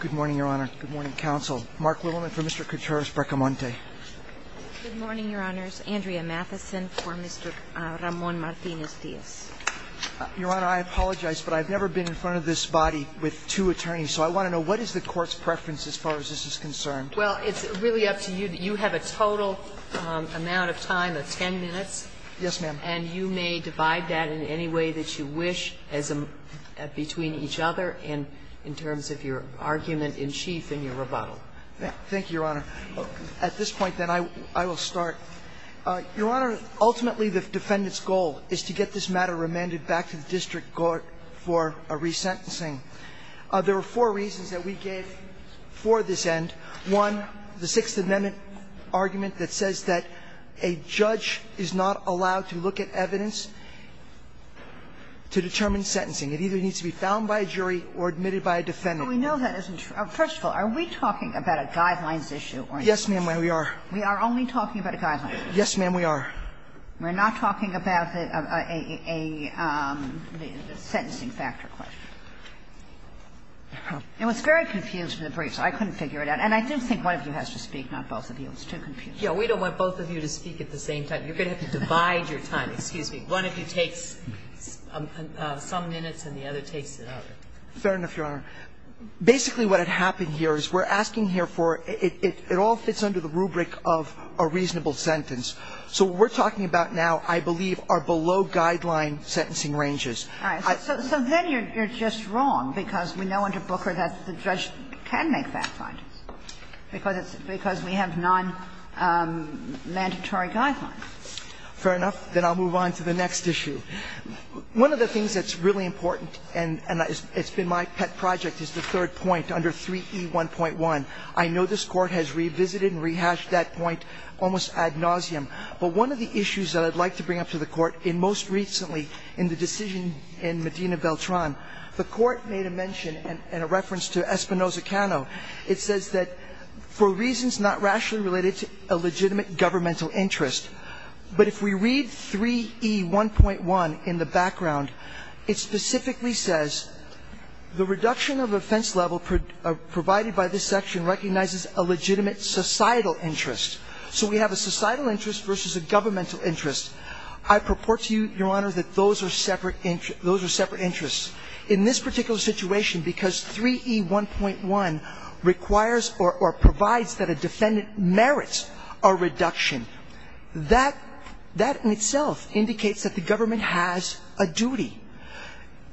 Good morning, Your Honor. Good morning, Counsel. Mark Littleman for Mr. Contreras-Bracamonte. Good morning, Your Honors. Andrea Matheson for Mr. Ramon Martinez-Diaz. Your Honor, I apologize, but I've never been in front of this body with two attorneys, so I want to know, what is the Court's preference as far as this is concerned? Well, it's really up to you. You have a total amount of time of 10 minutes. Yes, ma'am. And you may divide that in any way that you wish between each other in terms of your argument in chief and your rebuttal. Thank you, Your Honor. At this point, then, I will start. Your Honor, ultimately, the defendant's goal is to get this matter remanded back to the district court for resentencing. There are four reasons that we gave for this end. One, the Sixth Amendment argument that says that a judge is not allowed to look at evidence to determine sentencing. It either needs to be found by a jury or admitted by a defendant. But we know that isn't true. First of all, are we talking about a guidelines issue or not? Yes, ma'am, we are. We are only talking about a guidelines issue? Yes, ma'am, we are. We're not talking about a sentencing factor question? It was very confused in the brief, so I couldn't figure it out. And I do think one of you has to speak, not both of you. It's too confusing. Yeah. We don't want both of you to speak at the same time. You're going to have to divide your time. Excuse me. One of you takes some minutes and the other takes another. Fair enough, Your Honor. Basically, what had happened here is we're asking here for – it all fits under the rubric of a reasonable sentence. So what we're talking about now, I believe, are below-guideline sentencing ranges. All right. So then you're just wrong because we know under Booker that the judge can make fact-findings because it's – because we have non-mandatory guidelines. Fair enough. Then I'll move on to the next issue. One of the things that's really important, and it's been my pet project, is the third point under 3E1.1. I know this Court has revisited and rehashed that point almost ad nauseum. But one of the issues that I'd like to bring up to the Court in most recently in the decision in Medina-Beltran, the Court made a mention in a reference to Espinoza-Cano. It says that for reasons not rationally related to a legitimate governmental interest. But if we read 3E1.1 in the background, it specifically says, the reduction of offense level provided by this section recognizes a legitimate societal interest. So we have a societal interest versus a governmental interest. I purport to you, Your Honor, that those are separate interests. In this particular situation, because 3E1.1 requires or provides that a defendant merits a reduction, that in itself indicates that the government has a duty.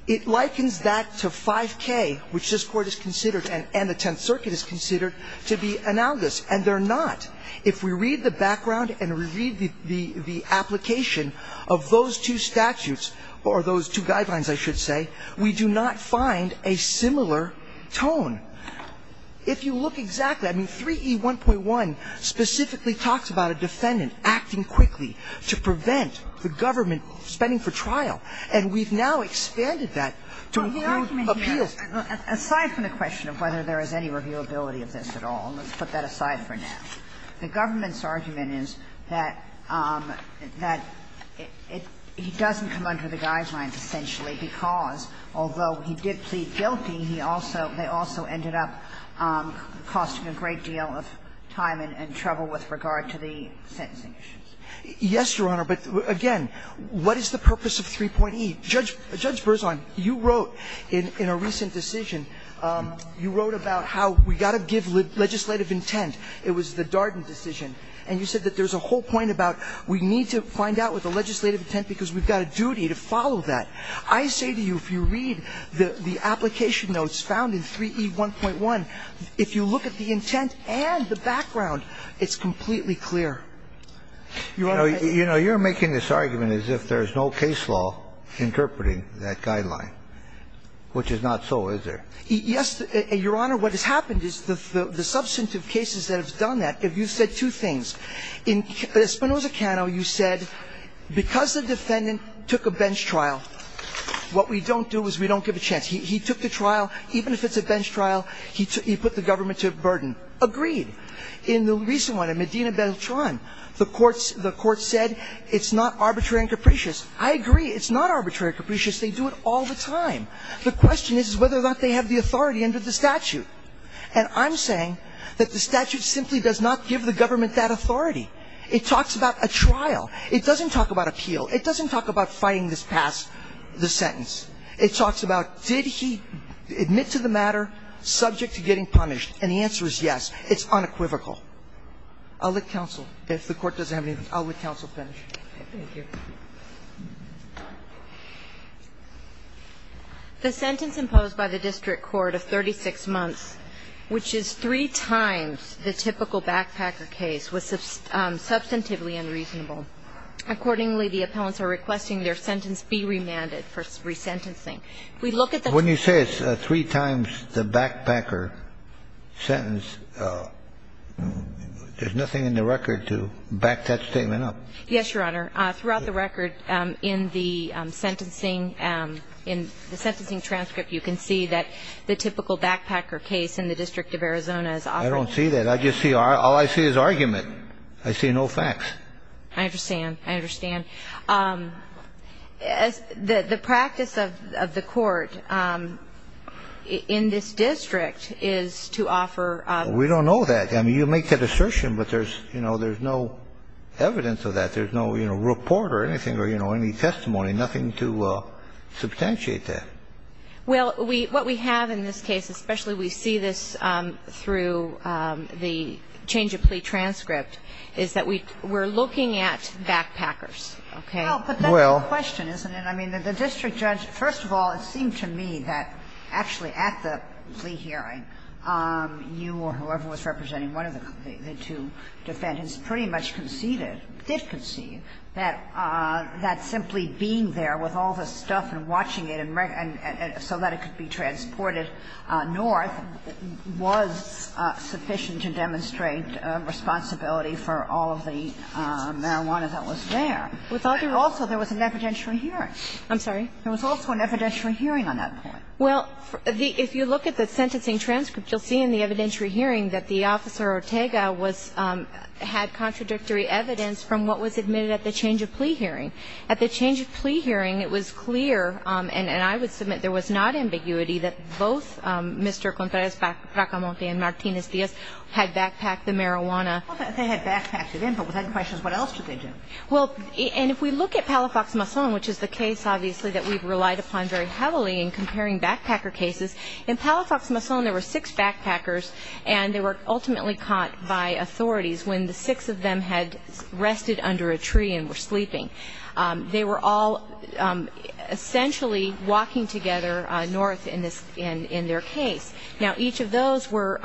It likens that to 5K, which this Court has considered and the Tenth Circuit has considered to be analogous, and they're not. If we read the background and we read the application of those two statutes, or those two guidelines, I should say, we do not find a similar tone. If you look exactly, I mean, 3E1.1 specifically talks about a defendant acting quickly to prevent the government spending for trial. And we've now expanded that to include appeals. Kagan, aside from the question of whether there is any reviewability of this at all, and let's put that aside for now, the government's argument is that it doesn't come under the guidelines essentially because, although he did plead guilty, he also they also ended up costing a great deal of time and trouble with regard to the sentencing issues. Yes, Your Honor, but again, what is the purpose of 3.E? Judge Berzon, you wrote in a recent decision, you wrote about how we've got to give legislative intent. It was the Darden decision. And you said that there's a whole point about we need to find out what the legislative intent, because we've got a duty to follow that. I say to you if you read the application notes found in 3E1.1, if you look at the intent and the background, it's completely clear. You know, you're making this argument as if there's no case law interpreting that guideline, which is not so, is there? Yes, Your Honor. What has happened is the substantive cases that have done that, if you said two things, in Espinoza-Cano you said because the defendant took a bench trial, what we don't do is we don't give a chance. He took the trial. Even if it's a bench trial, he put the government to a burden. Agreed. In the recent one, in Medina-Beltran, the court said it's not arbitrary and capricious. I agree. It's not arbitrary and capricious. They do it all the time. The question is whether or not they have the authority under the statute. And I'm saying that the statute simply does not give the government that authority. It talks about a trial. It doesn't talk about appeal. It doesn't talk about fighting this past the sentence. It talks about did he admit to the matter subject to getting punished. And the answer is yes. It's unequivocal. I'll let counsel. If the Court doesn't have anything, I'll let counsel finish. Thank you. The sentence imposed by the district court of 36 months, which is three times the typical backpacker case, was substantively unreasonable. Accordingly, the appellants are requesting their sentence be remanded for resentencing. When you say it's three times the backpacker sentence, there's nothing in the record to back that statement up. Yes, Your Honor. Throughout the record in the sentencing, in the sentencing transcript, you can see that the typical backpacker case in the District of Arizona is offered. I don't see that. All I see is argument. I see no facts. I understand. I understand. The practice of the court in this district is to offer. We don't know that. I mean, you make that assertion, but there's no evidence of that. There's no report or anything or any testimony, nothing to substantiate that. Well, what we have in this case, especially we see this through the change of plea transcript, is that we're looking at backpackers. Okay. Well. But that's the question, isn't it? I mean, the district judge, first of all, it seemed to me that actually at the plea hearing, you or whoever was representing one of the two defendants pretty much conceded or did concede that simply being there with all the stuff and watching it so that it could be transported north was sufficient to demonstrate responsibility for all of the marijuana that was there. Also, there was an evidentiary hearing. I'm sorry? There was also an evidentiary hearing on that point. Well, if you look at the sentencing transcript, you'll see in the evidentiary hearing that the Officer Ortega had contradictory evidence from what was admitted at the change of plea hearing. At the change of plea hearing, it was clear, and I would submit there was not ambiguity, that both Mr. Contreras-Bracamonte and Martinez-Diaz had backpacked the marijuana. Well, they had backpacked it in, but with that in question, what else did they do? Well, and if we look at Palafox-Mason, which is the case, obviously, that we've relied upon very heavily in comparing backpacker cases, in Palafox-Mason there were six backpackers, and they were ultimately caught by authorities when the six of them had rested under a tree and were sleeping. They were all essentially walking together north in their case. Now, each of those were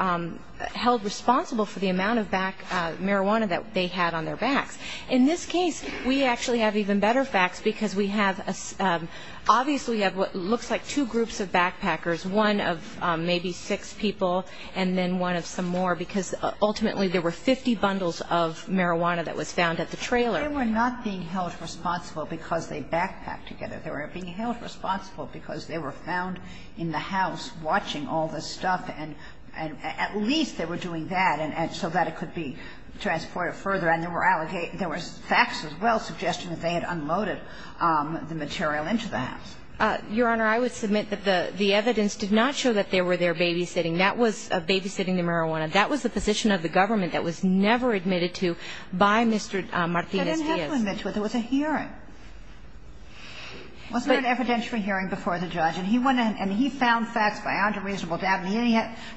held responsible for the amount of marijuana that they had on their backs. In this case, we actually have even better facts, because we have, obviously, we have what looks like two groups of backpackers, one of maybe six people and then one of some more, because ultimately there were 50 bundles of marijuana that was found at the trailer. They were not being held responsible because they backpacked together. They were being held responsible because they were found in the house watching all this stuff, and at least they were doing that so that it could be transported further, and there were facts as well suggesting that they had unloaded the material into the house. Your Honor, I would submit that the evidence did not show that they were there babysitting. That was babysitting the marijuana. That was the position of the government that was never admitted to by Mr. Martinez-Diaz. But there was a hearing. Wasn't there an evidentiary hearing before the judge? And he went in and he found facts beyond a reasonable doubt, and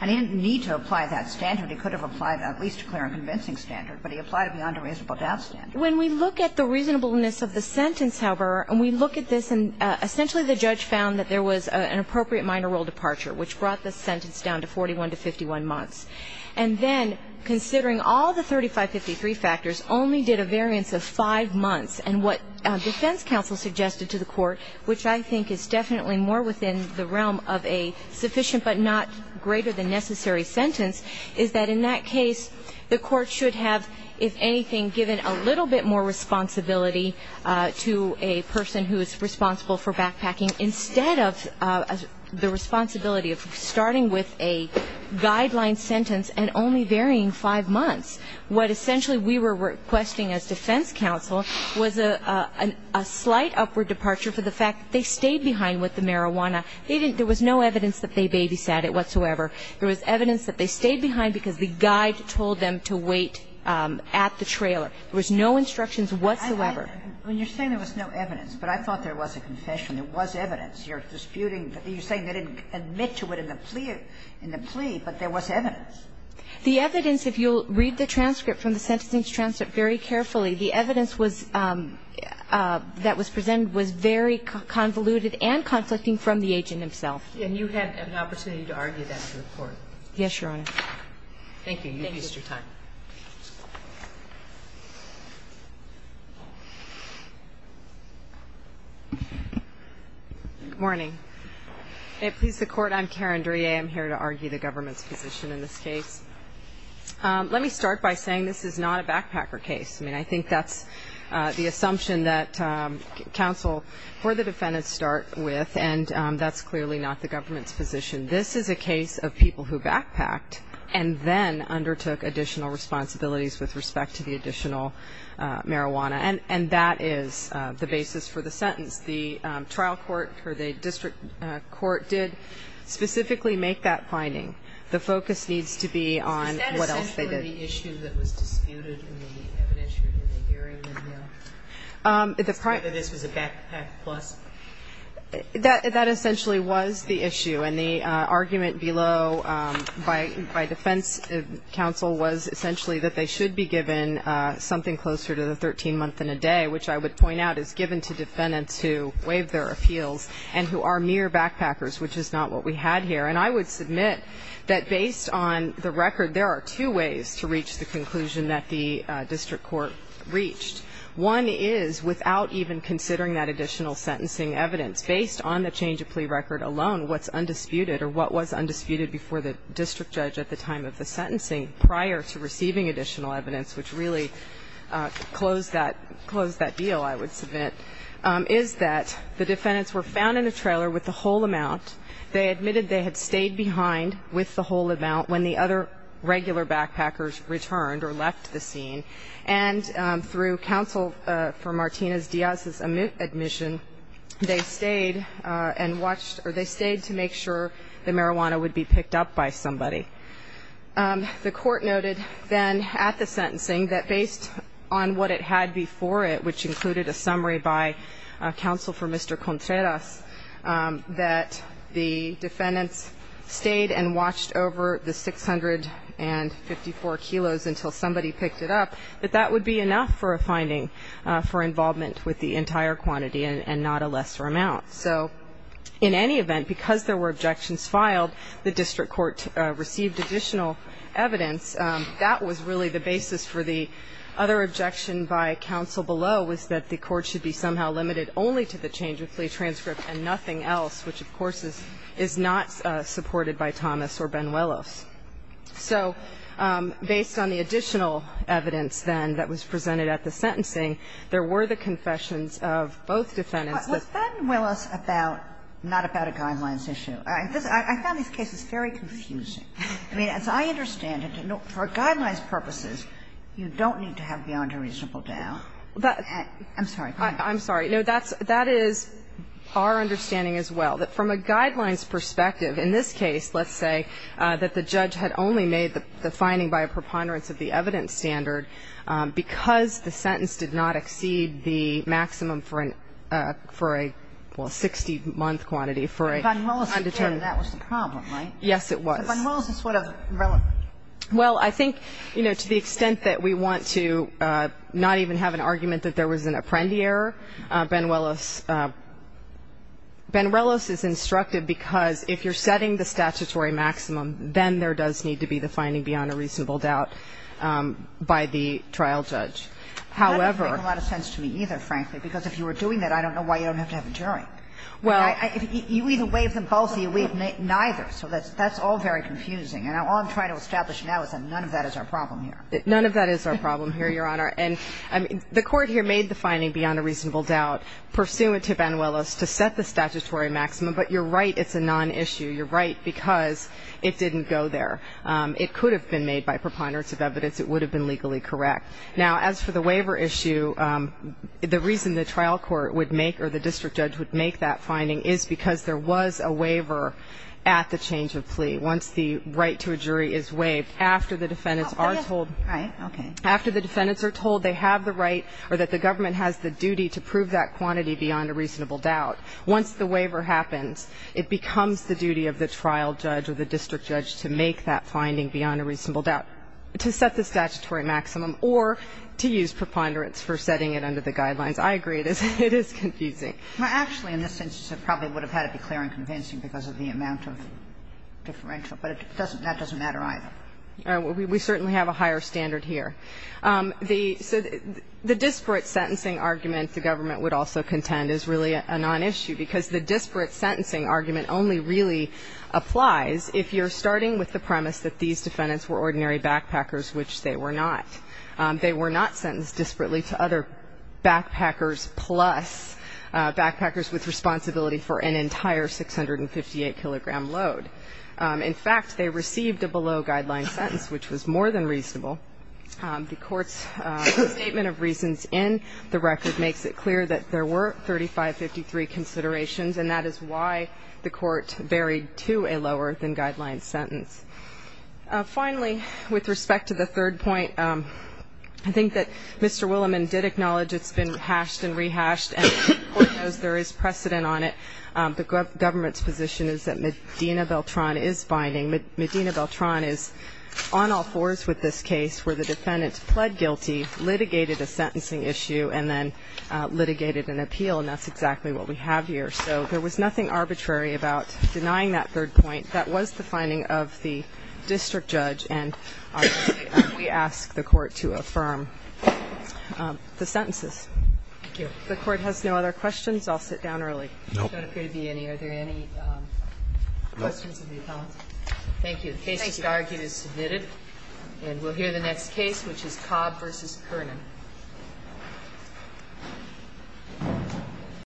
he didn't need to apply that standard. He could have applied at least a clear and convincing standard, but he applied it beyond a reasonable doubt standard. When we look at the reasonableness of the sentence, however, and we look at this and essentially the judge found that there was an appropriate minor role departure which brought the sentence down to 41 to 51 months. And then considering all the 3553 factors only did a variance of five months, and what defense counsel suggested to the court, which I think is definitely more within the realm of a sufficient but not greater than necessary sentence, is that in that case the court should have, if anything, given a little bit more responsibility to a person who is responsible for backpacking instead of the other person. So they didn't have a guideline sentence and only varying five months. What essentially we were requesting as defense counsel was a slight upward departure for the fact that they stayed behind with the marijuana. They didn't ‑‑ there was no evidence that they babysat it whatsoever. There was evidence that they stayed behind because the guide told them to wait at the trailer. There was no instructions whatsoever. Sotomayor, when you're saying there was no evidence, but I thought there was a confession. There was evidence. You're disputing ‑‑ you're saying they didn't admit to it in the plea, but there was evidence. The evidence, if you'll read the transcript from the sentencing transcript very carefully, the evidence was ‑‑ that was presented was very convoluted and conflicting from the agent himself. And you had an opportunity to argue that in court. Yes, Your Honor. Thank you. You've used your time. Good morning. May it please the Court, I'm Karen Drie. I'm here to argue the government's position in this case. Let me start by saying this is not a backpacker case. I mean, I think that's the assumption that counsel for the defendants start with, and that's clearly not the government's position. This is a case of people who backpacked and then undertook additional responsibilities with respect to the additional marijuana. And that is the basis for the sentence. The trial court or the district court did specifically make that finding. The focus needs to be on what else they did. Is that essentially the issue that was disputed in the evidence or in the hearing? Whether this was a backpack plus? That essentially was the issue. And the argument below by defense counsel was essentially that they should be given something closer to the 13 month and a day, which I would point out is given to defendants who waived their appeals and who are mere backpackers, which is not what we had here. And I would submit that based on the record, there are two ways to reach the conclusion that the district court reached. One is without even considering that additional sentencing evidence, based on the change of plea record alone, what's undisputed or what was undisputed before the district judge at the time of the sentencing prior to receiving additional evidence, which really closed that deal, I would submit, is that the defendants were found in a trailer with the whole amount. They admitted they had stayed behind with the whole amount when the other regular backpackers returned or left the scene. And through counsel for Martinez-Diaz's admission, they stayed to make sure the marijuana would be picked up by somebody. The court noted then at the sentencing that based on what it had before it, which included a summary by counsel for Mr. Contreras, that the defendants stayed and watched over the 654 kilos until somebody picked it up, that that would be enough for a finding for involvement with the entire quantity and not a lesser amount. So in any event, because there were objections filed, the district court received additional evidence. That was really the basis for the other objection by counsel below, was that the court should be somehow limited only to the change of plea transcript and nothing else, which, of course, is not supported by Thomas or Benuelos. So based on the additional evidence then that was presented at the sentencing, there were the confessions of both defendants. But was Benuelos not about a guidelines issue? I found these cases very confusing. I mean, as I understand it, for guidelines purposes, you don't need to have beyond a reasonable doubt. I'm sorry. I'm sorry. No, that is our understanding as well, that from a guidelines perspective in this case, let's say, that the judge had only made the finding by a preponderance of the evidence standard because the sentence did not exceed the maximum for a 60-month quantity for an undetermined Benuelos said that was the problem, right? Yes, it was. So Benuelos is relevant. Well, I think, you know, to the extent that we want to not even have an argument that there was an apprendi Benuelos is instructive because if you're setting the statutory maximum, then there does need to be the finding beyond a reasonable doubt by the trial judge. However ñ That doesn't make a lot of sense to me either, frankly, because if you were doing that, I don't know why you don't have to have a jury. Well ñ You either waive them both or you waive neither. So that's all very confusing. And all I'm trying to establish now is that none of that is our problem here. None of that is our problem here, Your Honor. And the court here made the finding beyond a reasonable doubt, pursuant to Benuelos to set the statutory maximum, but you're right it's a non-issue. You're right because it didn't go there. It could have been made by preponderance of evidence. It would have been legally correct. Now, as for the waiver issue, the reason the trial court would make or the district judge would make that finding is because there was a waiver at the change of plea. Once the right to a jury is waived, after the defendants are told ñ Right, okay. After the defendants are told they have the right or that the government has the duty to prove that quantity beyond a reasonable doubt, once the waiver happens, it becomes the duty of the trial judge or the district judge to make that finding beyond a reasonable doubt, to set the statutory maximum, or to use preponderance for setting it under the guidelines. I agree it is confusing. Actually, in this instance, it probably would have had to be clear and convincing because of the amount of differential, but that doesn't matter either. We certainly have a higher standard here. So the disparate sentencing argument the government would also contend is really a nonissue because the disparate sentencing argument only really applies if you're starting with the premise that these defendants were ordinary backpackers, which they were not. They were not sentenced disparately to other backpackers plus backpackers with responsibility for an entire 658-kilogram load. In fact, they received a below-guideline sentence, which was more than reasonable. The Court's statement of reasons in the record makes it clear that there were 3553 considerations, and that is why the Court varied to a lower-than-guideline sentence. Finally, with respect to the third point, I think that Mr. Williman did acknowledge it's been hashed and rehashed, and the Court knows there is precedent on it. The government's position is that Medina Beltran is binding. Medina Beltran is on all fours with this case where the defendant pled guilty, litigated a sentencing issue, and then litigated an appeal, and that's exactly what we have here. So there was nothing arbitrary about denying that third point. That was the finding of the district judge, and we ask the Court to affirm the sentences. Thank you. If the Court has no other questions, I'll sit down early. No. I don't think there would appear to be any. Are there any questions of the appellant? No. Thank you. The basis of the argument is submitted. And we'll hear the next case, which is Cobb v. Kernan.